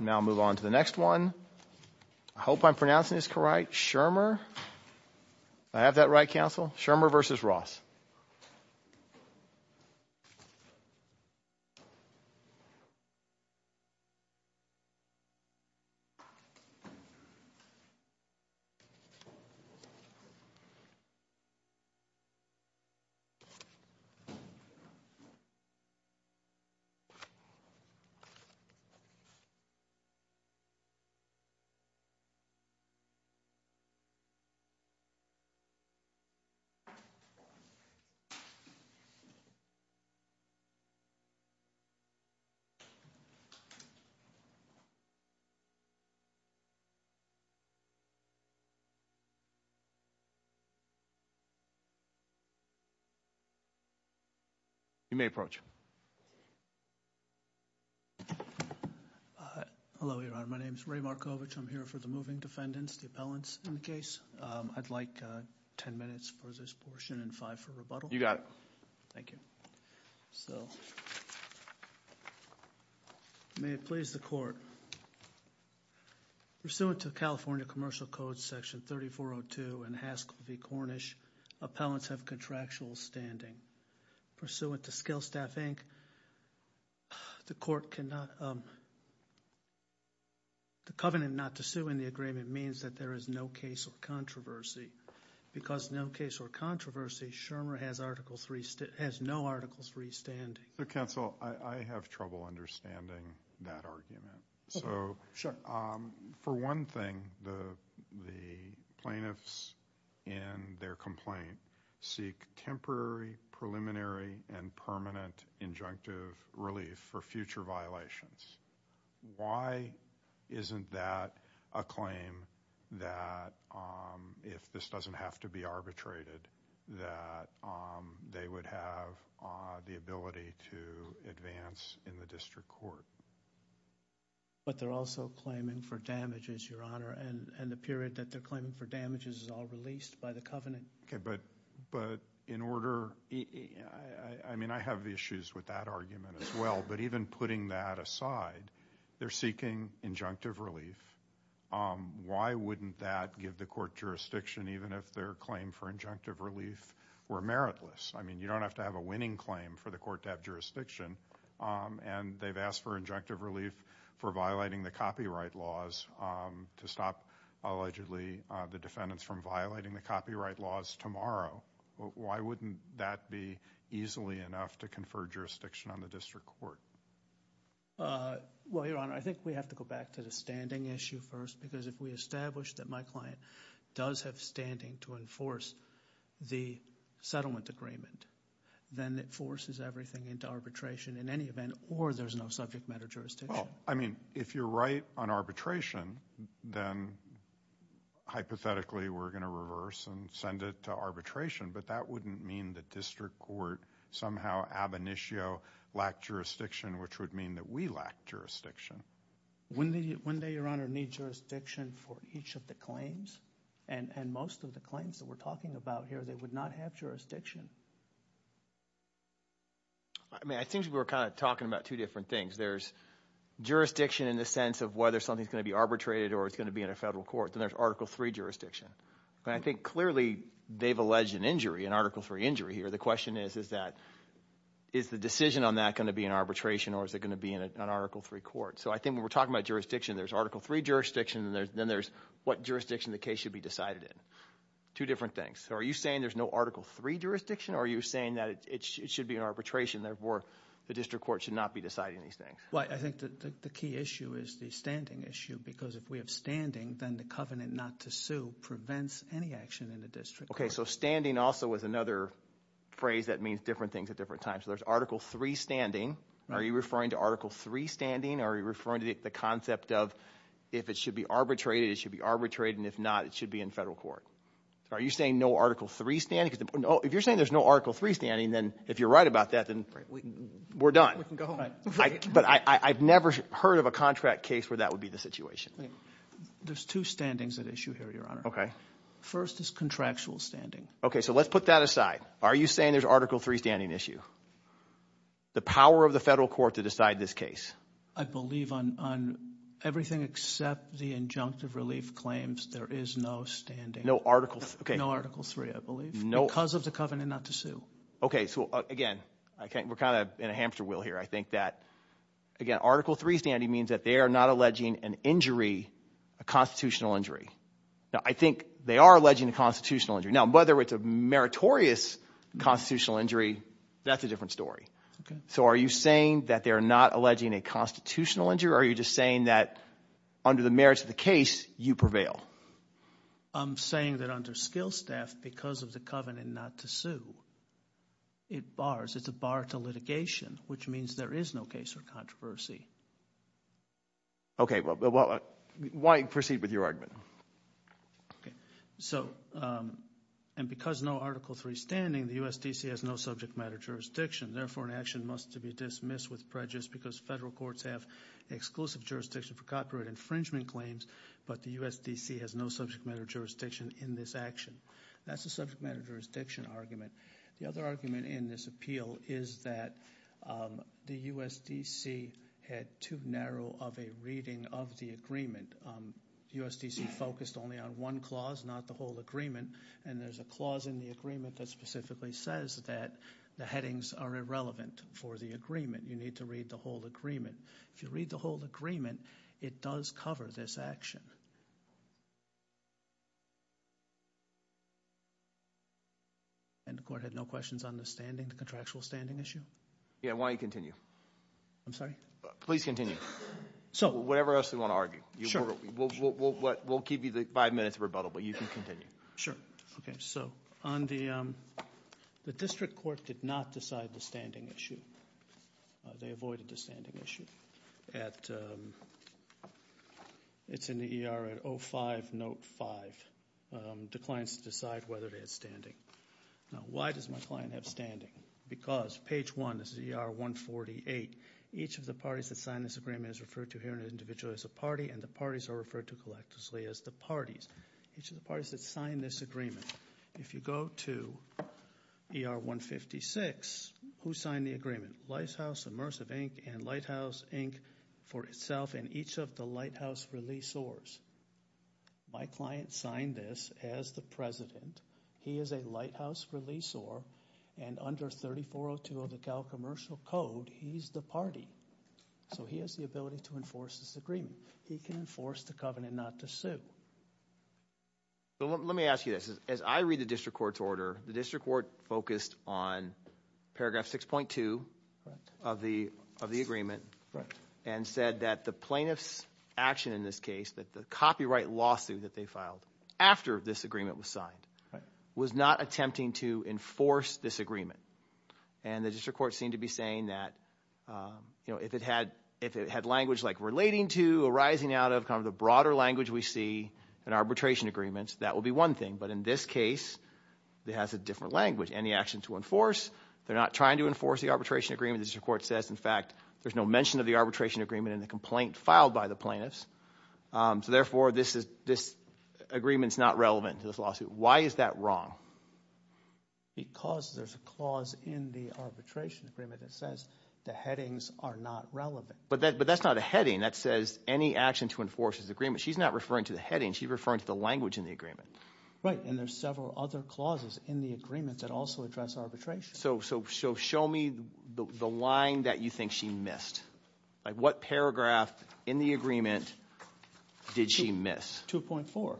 Now I'll move on to the next one. I hope I'm pronouncing this correct. Schirmer. I have that right, Counsel? Schirmer v. Ross. You may approach. Hello, Your Honor. My name is Ray Markovich. I'm here for the moving defendants, the appellants in the case. I'd like 10 minutes for this portion and five for rebuttal. You got it. Thank you. May it please the Court. Pursuant to California Commercial Code Section 3402 and Haskell v. Cornish, appellants have contractual standing. Pursuant to Skill Staff, Inc., the covenant not to sue in the agreement means that there is no case or controversy. Because no case or controversy, Schirmer has no Article III standing. So, Counsel, I have trouble understanding that argument. So, for one thing, the plaintiffs in their complaint seek temporary, preliminary, and permanent injunctive relief for future violations. Why isn't that a claim that, if this doesn't have to be arbitrated, that they would have the ability to advance in the district court? But they're also claiming for damages, Your Honor. And the period that they're claiming for damages is all released by the covenant. Okay. But in order, I mean, I have issues with that argument as well. But even putting that aside, they're seeking injunctive relief. Why wouldn't that give the court jurisdiction, even if their claim for injunctive relief were meritless? I mean, you don't have to have a winning claim for the court to have jurisdiction. And they've asked for injunctive relief for violating the copyright laws to stop, allegedly, the defendants from violating the copyright laws tomorrow. Why wouldn't that be easily enough to confer jurisdiction on the district court? Well, Your Honor, I think we have to go back to the standing issue first. Because if we establish that my client does have standing to enforce the settlement agreement, then it forces everything into arbitration in any event, or there's no subject matter jurisdiction. I mean, if you're right on arbitration, then hypothetically, we're going to reverse and send it to arbitration. But that wouldn't mean the district court somehow ab initio lack jurisdiction, which would mean that we lack jurisdiction. When they, Your Honor, need jurisdiction for each of the claims, and most of the claims that we're talking about here, they would not have jurisdiction. I mean, I think we're kind of talking about two different things. There's jurisdiction in the sense of whether something's going to be arbitrated or it's going to be in a federal court. Then there's Article III jurisdiction. And I think clearly, they've alleged an injury, an Article III injury here. The question is, is that, is the decision on that going to be an arbitration, or is it going to be in an Article III court? So I think when we're talking about jurisdiction, there's Article III jurisdiction. Then there's what jurisdiction the case should be decided in. Two different things. Are you saying there's no Article III jurisdiction, or are you saying that it should be an arbitration, therefore, the district court should not be deciding these things? Well, I think that the key issue is the standing issue, because if we have standing, then the covenant not to sue prevents any action in the district court. Okay. So standing also is another phrase that means different things at different times. So there's Article III standing. Are you referring to Article III standing? Are you referring to the concept of if it should be arbitrated, it should be arbitrated, and if not, it should be in federal court? Are you saying no Article III standing? If you're saying there's no Article III standing, then if you're right about that, then we're done. But I've never heard of a contract case where that would be the situation. There's two standings at issue here, Your Honor. Okay. First is contractual standing. Okay. So let's put that aside. Are you saying there's Article III standing issue? The power of the federal court to decide this case? I believe on everything except the injunctive relief claims, there is no standing. No Article III? No Article III, I believe, because of the covenant not to sue. Okay. So again, we're kind of in a hamster wheel here. I think that, again, Article III standing means that they are not alleging an injury, a constitutional injury. I think they are alleging a constitutional injury. Now, whether it's a meritorious constitutional injury, that's a different story. So are you saying that they're not alleging a constitutional injury, or are you just saying that under the merits of the case, you prevail? I'm saying that under skill staff, because of the covenant not to sue, it bars. It's a bar to litigation, which means there is no case for controversy. Okay. Well, why don't you proceed with your argument? Okay. So, and because no Article III standing, the U.S. D.C. has no subject matter jurisdiction. Therefore, an action must be dismissed with prejudice, because federal courts have exclusive jurisdiction for copyright infringement claims, but the U.S. D.C. has no subject matter jurisdiction in this action. That's a subject matter jurisdiction argument. The other argument in this appeal is that the U.S. D.C. had too narrow of a reading of the agreement. The U.S. D.C. focused only on one clause, not the whole agreement, and there's a clause in the agreement that specifically says that the headings are irrelevant for the agreement. You need to read the whole agreement. If you read the whole agreement, it does cover this action. And the court had no questions on the standing, the contractual standing issue? Yeah. Why don't you continue? I'm sorry? Please continue. Whatever else you want to argue. We'll give you the five minutes of rebuttal, but you can continue. Sure. Okay. So, the district court did not decide the standing issue. They avoided the standing issue. It's in the E.R. at 05, note 5. The clients decide whether they have standing. Now, why does my client have standing? Because, page 1, this is E.R. 148, each of the parties that sign this agreement is referred to here individually as a party, and the parties are referred to collectively as the parties. Each of the parties that sign this agreement, if you go to E.R. 156, who signed the agreement? Lighthouse Immersive, Inc., and Lighthouse, Inc., for itself, and each of the lighthouse releasors. My client signed this as the president. He is a lighthouse releasor, and under 3402 of the GAL Commercial Code, he's the party. So, he has the ability to enforce this agreement. He can enforce the covenant not to sue. Let me ask you this. As I read the district court's order, the district court focused on paragraph 6.2 of the agreement and said that the plaintiff's action in this case, that the copyright lawsuit that they filed after this agreement was signed, was not attempting to enforce this agreement, and the district court seemed to be saying that, you know, if it had language like relating to, arising out of, kind of the broader language we see in arbitration agreements, that would be one thing. But in this case, it has a different language. Any action to enforce, they're not trying to enforce the arbitration agreement. The district court says, in fact, there's no mention of the arbitration agreement in the complaint filed by the plaintiffs. So, therefore, this agreement's not relevant to this lawsuit. Why is that wrong? Because there's a clause in the arbitration agreement that says the headings are not relevant. But that's not a heading that says any action to enforce this agreement. She's not referring to the headings. She's referring to the language in the agreement. Right, and there's several other clauses in the agreement that also address arbitration. So show me the line that you think she missed. What paragraph in the agreement did she miss? 2.4.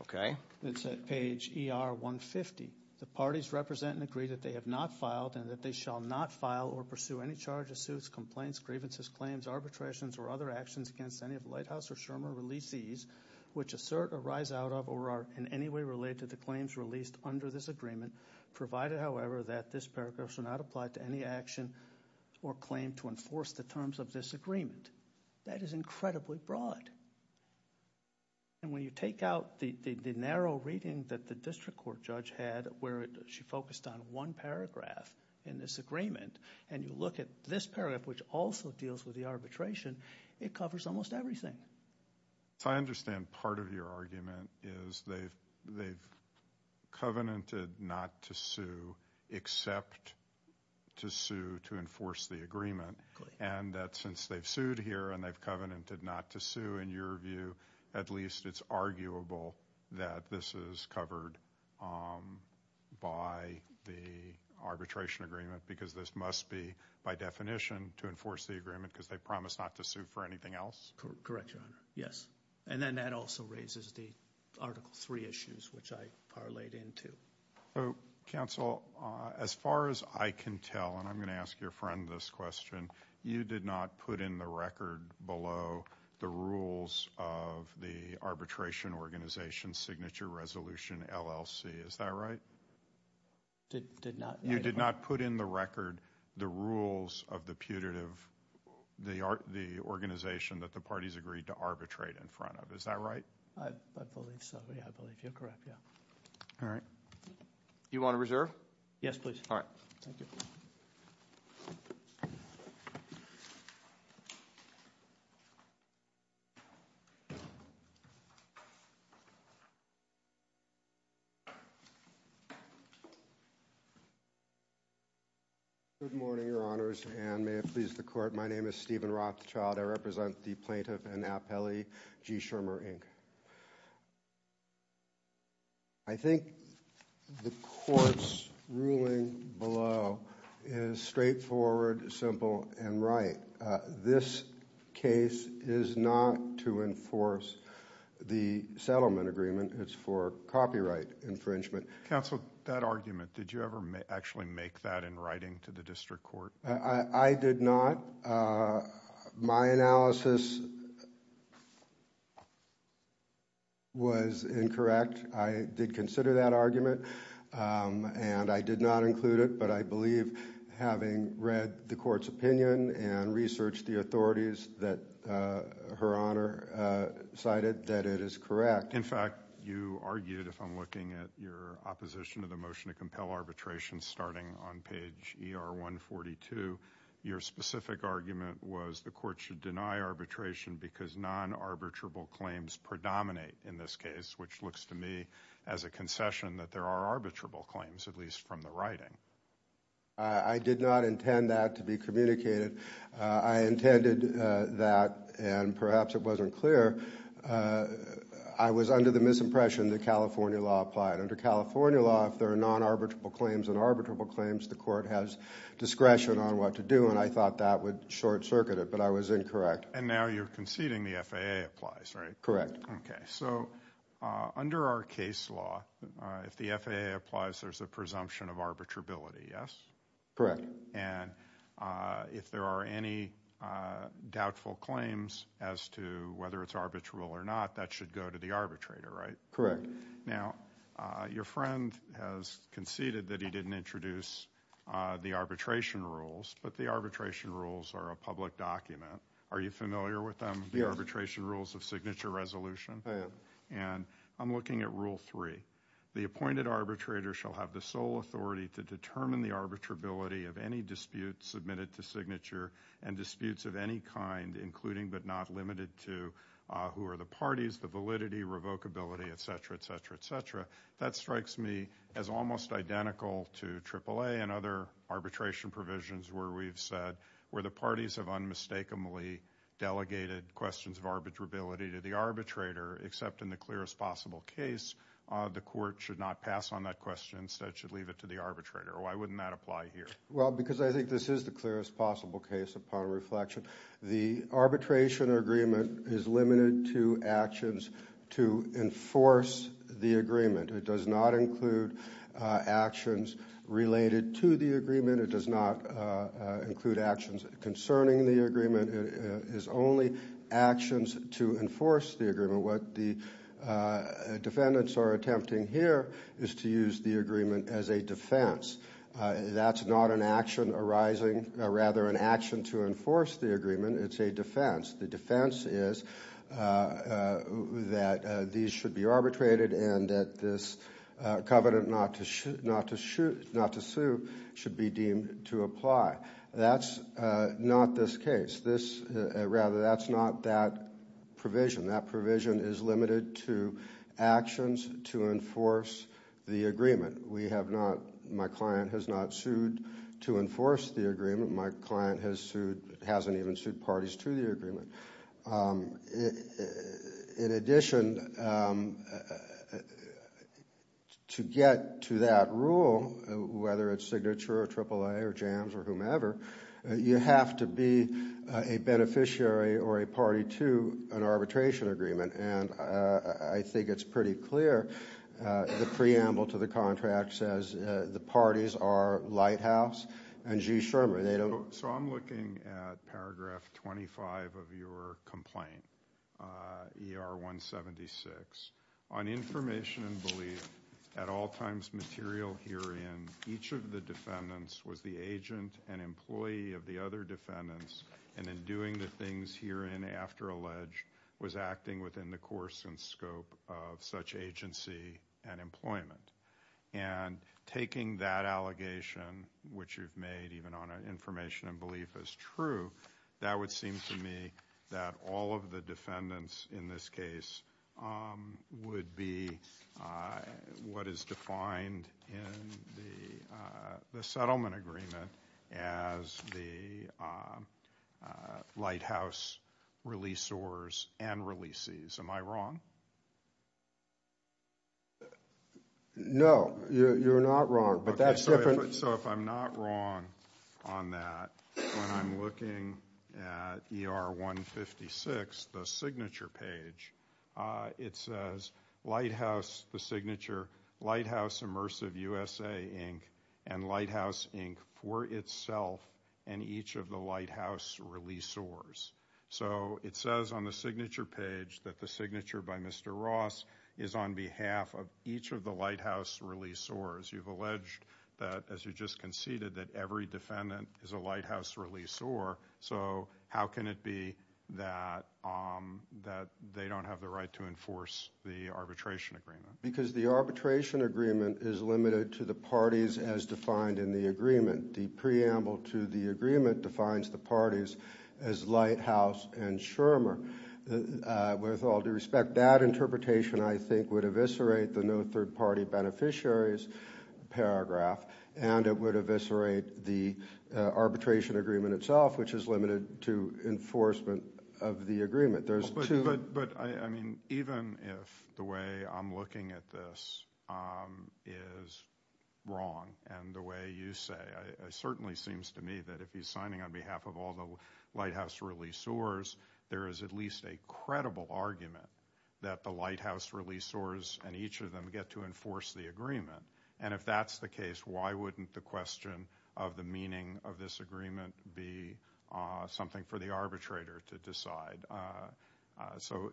Okay. It's at page ER 150. The parties represent and agree that they have not filed and that they shall not file or pursue any charges, suits, complaints, grievances, claims, arbitrations, or other actions against any of Lighthouse or Shermer releasees which assert or rise out of or are in any way related to the claims released under this agreement, provided, however, that this paragraph shall not apply to any action or claim to enforce the terms of this agreement. That is incredibly broad. And when you take out the narrow reading that the district court judge had where she focused on one paragraph in this agreement and you look at this paragraph which also deals with the arbitration, it covers almost everything. So I understand part of your argument is they've covenanted not to sue except to sue to enforce the agreement. And that since they've sued here and they've covenanted not to sue, in your view, at least it's arguable that this is covered by the arbitration agreement because this must be, by definition, to enforce the agreement because they promised not to sue for anything else? Correct, Your Honor. Yes. And then that also raises the Article III issues which I parlayed into. So, counsel, as far as I can tell, and I'm going to ask your friend this question, you did not put in the record below the rules of the arbitration organization signature resolution LLC. Is that right? Did not. You did not put in the record the rules of the putative, the organization that the parties agreed to arbitrate in front of. Is that right? I believe so. Yeah, I believe you're correct. Yeah. All right. You want to reserve? Yes, please. All right. Thank you. Good morning, Your Honors, and may it please the Court. My name is Stephen Rothschild. I think the Court's ruling below is straightforward, simple, and right. This case is not to enforce the settlement agreement. It's for copyright infringement. Counsel, that argument, did you ever actually make that in writing to the District Court? I did not. My analysis was incorrect. I did consider that argument, and I did not include it, but I believe, having read the Court's opinion and researched the authorities that Her Honor cited, that it is correct. In fact, you argued, if I'm looking at your opposition to the motion to compel arbitration starting on page ER 142, your specific argument was the Court should deny arbitration because non-arbitrable claims predominate in this case, which looks to me as a concession that there are arbitrable claims, at least from the writing. I did not intend that to be communicated. I intended that, and perhaps it wasn't clear. I was under the misimpression that California law applied. Under California law, if there are non-arbitrable claims and arbitrable claims, the Court has discretion on what to do, and I thought that would short-circuit it, but I was incorrect. And now you're conceding the FAA applies, right? Correct. Okay. So under our case law, if the FAA applies, there's a presumption of arbitrability, yes? Correct. And if there are any doubtful claims as to whether it's arbitral or not, that should go to the arbitrator, right? Correct. Now, your friend has conceded that he didn't introduce the arbitration rules, but the arbitration rules are a public document. Are you familiar with them, the arbitration rules of signature resolution? I am. And I'm looking at Rule 3. The appointed arbitrator shall have the sole authority to determine the arbitrability of any dispute submitted to signature and disputes of any kind, including but not limited to who are the parties, the validity, revocability, et cetera, et cetera, et cetera. That strikes me as almost identical to AAA and other arbitration provisions where we've said where the parties have unmistakably delegated questions of arbitrability to the arbitrator, except in the clearest possible case, the Court should not pass on that question. Instead, it should leave it to the arbitrator. Why wouldn't that apply here? Well, because I think this is the clearest possible case upon reflection. The arbitration agreement is limited to actions to enforce the agreement. It does not include actions related to the agreement. It does not include actions concerning the agreement. It is only actions to enforce the agreement. What the defendants are attempting here is to use the agreement as a defense. That's not an action arising, or rather an action to enforce the agreement. It's a defense. The defense is that these should be arbitrated and that this covenant not to sue should be deemed to apply. That's not this case. Rather, that's not that provision. That provision is limited to actions to enforce the agreement. My client has not sued to enforce the agreement. My client hasn't even sued parties to the agreement. In addition, to get to that rule, whether it's signature or AAA or JAMS or whomever, you have to be a beneficiary or a party to an arbitration agreement. I think it's pretty clear the preamble to the contract says the parties are Lighthouse and G. Shermer. I'm looking at paragraph 25 of your complaint, ER 176. On information and belief, at all times material herein, each of the defendants was the agent and employee of the other defendants, and in doing the things herein after alleged, was acting within the course and scope of such agency and employment. Taking that allegation, which you've made even on information and belief as true, that would seem to me that all of the defendants in this case would be what is defined in the settlement agreement as the Lighthouse releaseors and releasees. Am I wrong? No, you're not wrong, but that's different. So if I'm not wrong on that, when I'm looking at ER 156, the signature page, it says Lighthouse, the signature, Lighthouse Immersive USA, Inc. and Lighthouse, Inc. for itself and each of the Lighthouse releaseors. So it says on the signature page that the signature by Mr. Ross is on behalf of each of the Lighthouse releaseors. You've alleged that, as you just conceded, that every defendant is a Lighthouse releaseor, so how can it be that they don't have the right to enforce the arbitration agreement? Because the arbitration agreement is limited to the parties as defined in the agreement. The preamble to the agreement defines the parties as Lighthouse and Shermer. With all due respect, that interpretation, I think, would eviscerate the no third-party beneficiaries paragraph, and it would eviscerate the arbitration agreement itself, which is limited to enforcement of the agreement. But, I mean, even if the way I'm looking at this is wrong, and the way you say, it certainly seems to me that if he's signing on behalf of all the Lighthouse releaseors, there is at least a credible argument that the Lighthouse releaseors and each of them get to enforce the agreement. And if that's the case, why wouldn't the question of the meaning of this agreement be something for the arbitrator to decide? So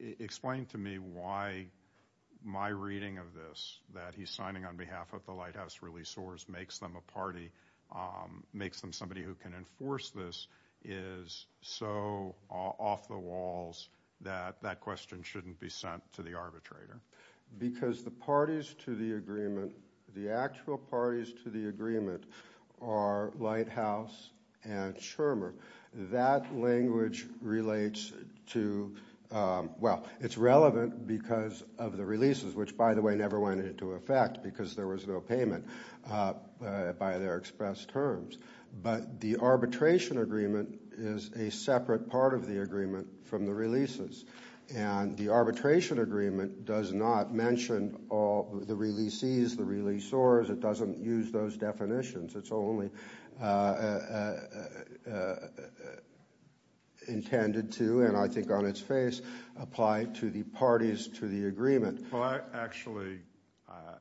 explain to me why my reading of this, that he's signing on behalf of the Lighthouse releaseors, makes them a party, makes them somebody who can enforce this, is so off the walls that that question shouldn't be sent to the arbitrator. Because the parties to the agreement, the actual parties to the agreement, are Lighthouse and Shermer. That language relates to, well, it's relevant because of the releases, which, by the way, never went into effect because there was no payment by their express terms. But the arbitration agreement is a separate part of the agreement from the releases. And the arbitration agreement does not mention all the releasees, the releaseors. It doesn't use those definitions. It's only intended to, and I think on its face, apply to the parties to the agreement. Well, actually,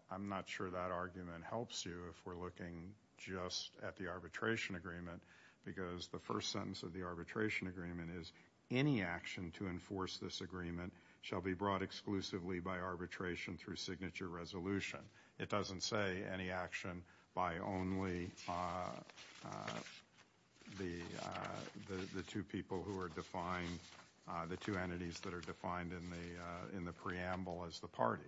I'm not sure that argument helps you if we're looking just at the arbitration agreement, because the first sentence of the arbitration agreement is, any action to enforce this agreement shall be brought exclusively by arbitration through signature resolution. It doesn't say any action by only the two people who are defined, the two entities that are defined in the preamble as the parties.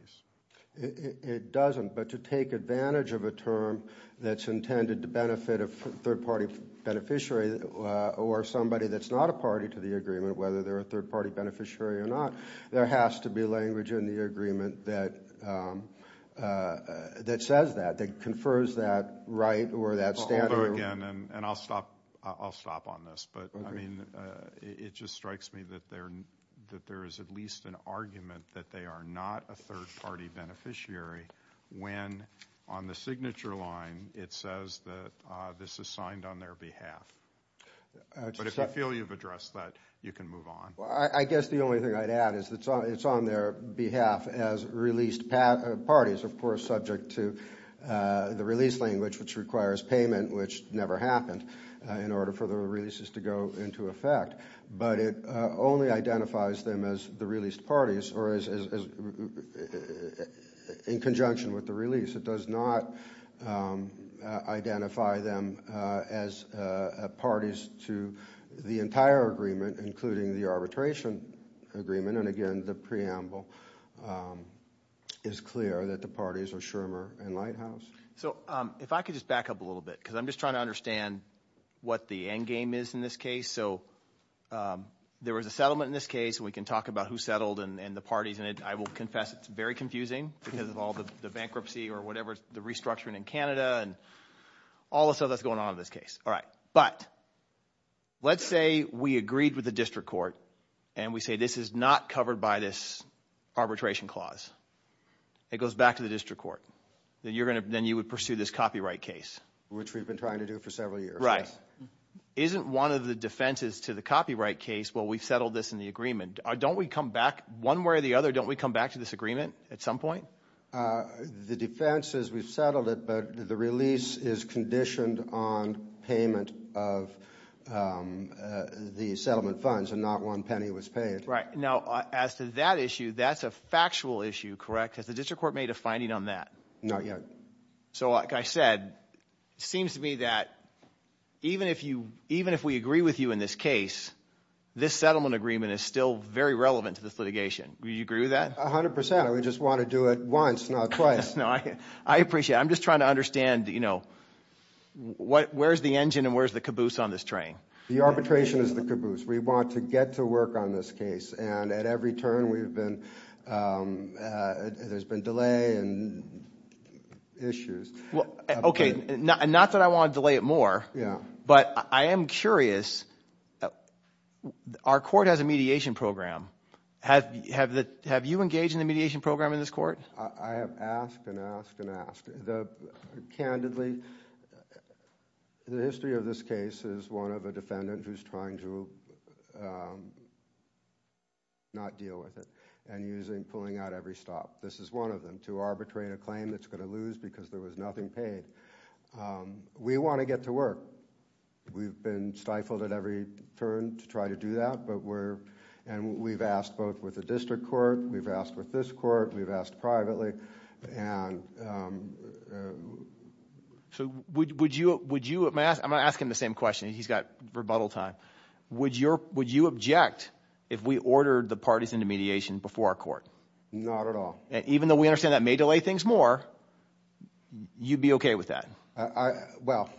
It doesn't. But to take advantage of a term that's intended to benefit a third-party beneficiary or somebody that's not a party to the agreement, whether they're a third-party beneficiary or not, there has to be language in the agreement that says that, that confers that right or that standard. Although, again, and I'll stop on this, but, I mean, it just strikes me that there is at least an argument that they are not a third-party beneficiary when, on the signature line, it says that this is signed on their behalf. But if you feel you've addressed that, you can move on. Well, I guess the only thing I'd add is that it's on their behalf as released parties, of course, subject to the release language, which requires payment, which never happened, in order for the releases to go into effect. But it only identifies them as the released parties. It doesn't identify them as parties to the entire agreement, including the arbitration agreement. And again, the preamble is clear that the parties are Schirmer and Lighthouse. So if I could just back up a little bit, because I'm just trying to understand what the endgame is in this case. So there was a settlement in this case, and we can talk about who settled and the parties in it. I will confess it's very confusing because of all the bankruptcy or whatever, the restructuring in Canada and all the stuff that's going on in this case. All right. But let's say we agreed with the district court and we say this is not covered by this arbitration clause. It goes back to the district court. Then you would pursue this copyright case. Which we've been trying to do for several years. Right. Isn't one of the defenses to the copyright case, well, we've settled this in the agreement. Don't we come back, one way or the other, don't we come back to this agreement at some point? The defense is we've settled it, but the release is conditioned on payment of the settlement funds and not one penny was paid. Right. Now, as to that issue, that's a factual issue, correct? Has the district court made a finding on that? Not yet. So like I said, it seems to me that even if we agree with you in this case, this settlement agreement is still very relevant to this litigation. Do you agree with that? A hundred percent. We just want to do it once, not twice. No, I appreciate it. I'm just trying to understand, you know, where's the engine and where's the caboose on this train? The arbitration is the caboose. We want to get to work on this case. And at every turn we've been, there's been delay and issues. Okay. Not that I want to delay it more, but I am curious. Our court has a mediation program. Have you engaged in the mediation program in this court? I have asked and asked and asked. The history of this case is one of a defendant who's trying to not deal with it and pulling out every stop. This is one of them, to arbitrate a claim that's going to lose because there was nothing paid. Um, we want to get to work. We've been stifled at every turn to try to do that, but we're, and we've asked both with the district court, we've asked with this court, we've asked privately. And, um. So would you, would you, I'm going to ask him the same question. He's got rebuttal time. Would you object if we ordered the parties into mediation before our court? Not at all. Even though we understand that may delay things more, you'd be okay with that? I, well,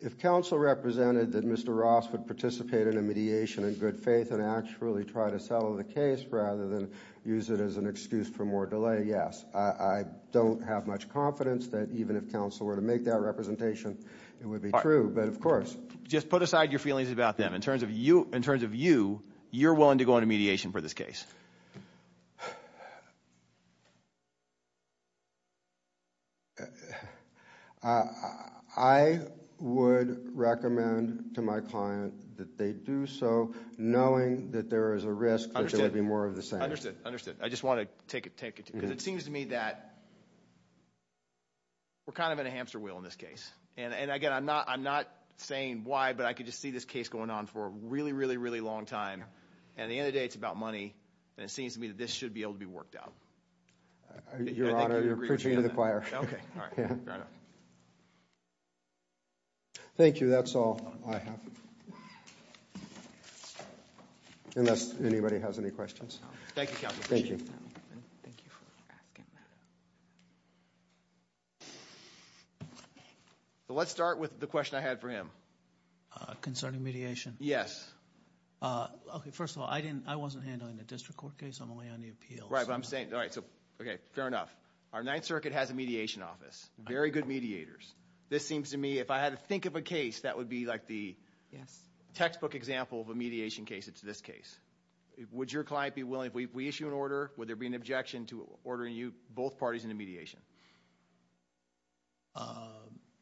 if counsel represented that Mr. Ross would participate in a mediation in good faith and actually try to settle the case rather than use it as an excuse for more delay, yes. I don't have much confidence that even if counsel were to make that representation, it would be true. But of course. Just put aside your feelings about them. In terms of you, in terms of you, you're willing to go into mediation for this case? Uh, uh, I would recommend to my client that they do so knowing that there is a risk that there would be more of the same. Understood, understood. I just want to take it, take it, because it seems to me that we're kind of in a hamster wheel in this case. And, and again, I'm not, I'm not saying why, but I could just see this case going on for a really, really, really long time. And at the end of the day, it's about money. And it seems to me that this should be able to be worked out. Your Honor, you're preaching to the choir. Okay. All right. Fair enough. Thank you. That's all I have. Unless anybody has any questions. Thank you, counsel. Thank you. So let's start with the question I had for him. Uh, concerning mediation. Yes. Uh, okay. First of all, I didn't, I wasn't handling the district court case. I'm only on the appeals. Right, okay. Fair enough. Our Ninth Circuit has a mediation office. Very good mediators. This seems to me, if I had to think of a case that would be like the textbook example of a mediation case, it's this case. Would your client be willing, if we issue an order, would there be an objection to ordering you, both parties, into mediation? Uh,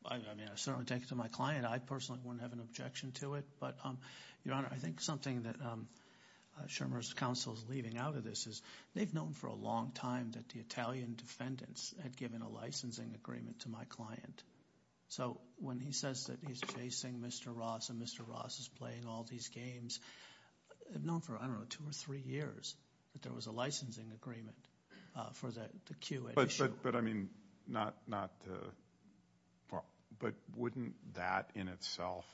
I mean, I certainly take it to my client. I personally wouldn't have an objection to it. But, um, Your Honor, I think something that, um, uh, Shermer's counsel is leaving out of this is they've known for a long time that the Italian defendants had given a licensing agreement to my client. So when he says that he's chasing Mr. Ross and Mr. Ross is playing all these games, I've known for, I don't know, two or three years that there was a licensing agreement, uh, for the QH issue. But, but, I mean, not, not to, well, but wouldn't that in itself,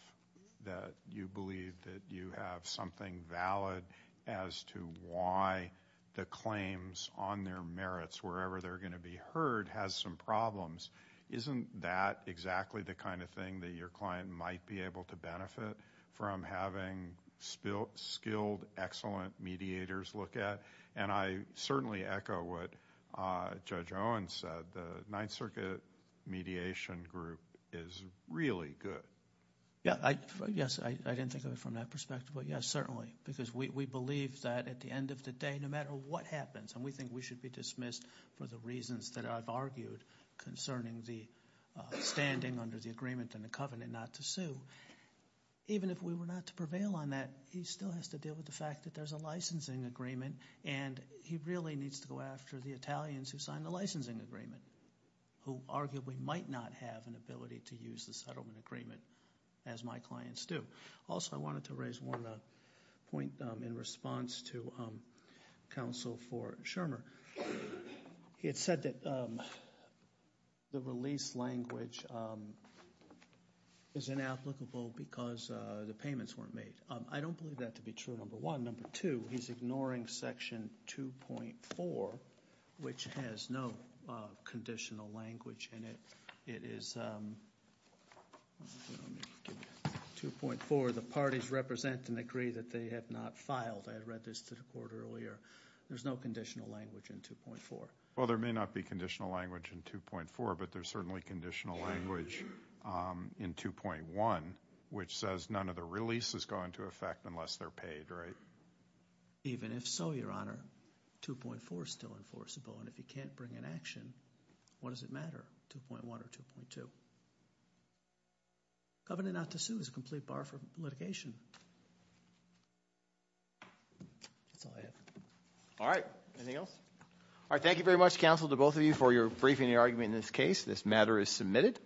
that you believe that you have something valid as to why the claims on their merits, wherever they're going to be heard, has some problems, isn't that exactly the kind of thing that your client might be able to benefit from having skilled, excellent mediators look at? And I certainly echo what, uh, Judge Owen said, the Ninth Circuit mediation group is really good. Yeah, I, yes, I didn't think of it from that perspective, but yes, certainly. Because we, we believe that at the end of the day, no matter what happens, and we think we should be dismissed for the reasons that I've argued concerning the, uh, standing under the agreement and the covenant not to sue. Even if we were not to prevail on that, he still has to deal with the fact that there's a licensing agreement, and he really needs to go after the Italians who signed the licensing agreement, who arguably might not have an ability to use the settlement agreement, as my clients do. Also, I wanted to raise one point, um, in response to, um, counsel for Sherman. He had said that, um, the release language, um, is inapplicable because, uh, the payments weren't made. Um, I don't believe that to be true, number one. Number two, he's ignoring section 2.4, which has no, uh, conditional language in it. It is, um, 2.4, the parties represent and agree that they have not filed. I had read this to the court earlier. There's no conditional language in 2.4. Well, there may not be conditional language in 2.4, but there's certainly conditional language, um, in 2.1, which says none of the release is going to affect unless they're paid, right? Even if so, your honor, 2.4 is still enforceable, and if he can't bring an action, what does it matter, 2.1 or 2.2? Governor, not to sue is a complete bar for litigation. That's all I have. All right. Anything else? All right. Thank you very much, counsel, to both of you for your briefing and argument in this case. This matter is submitted.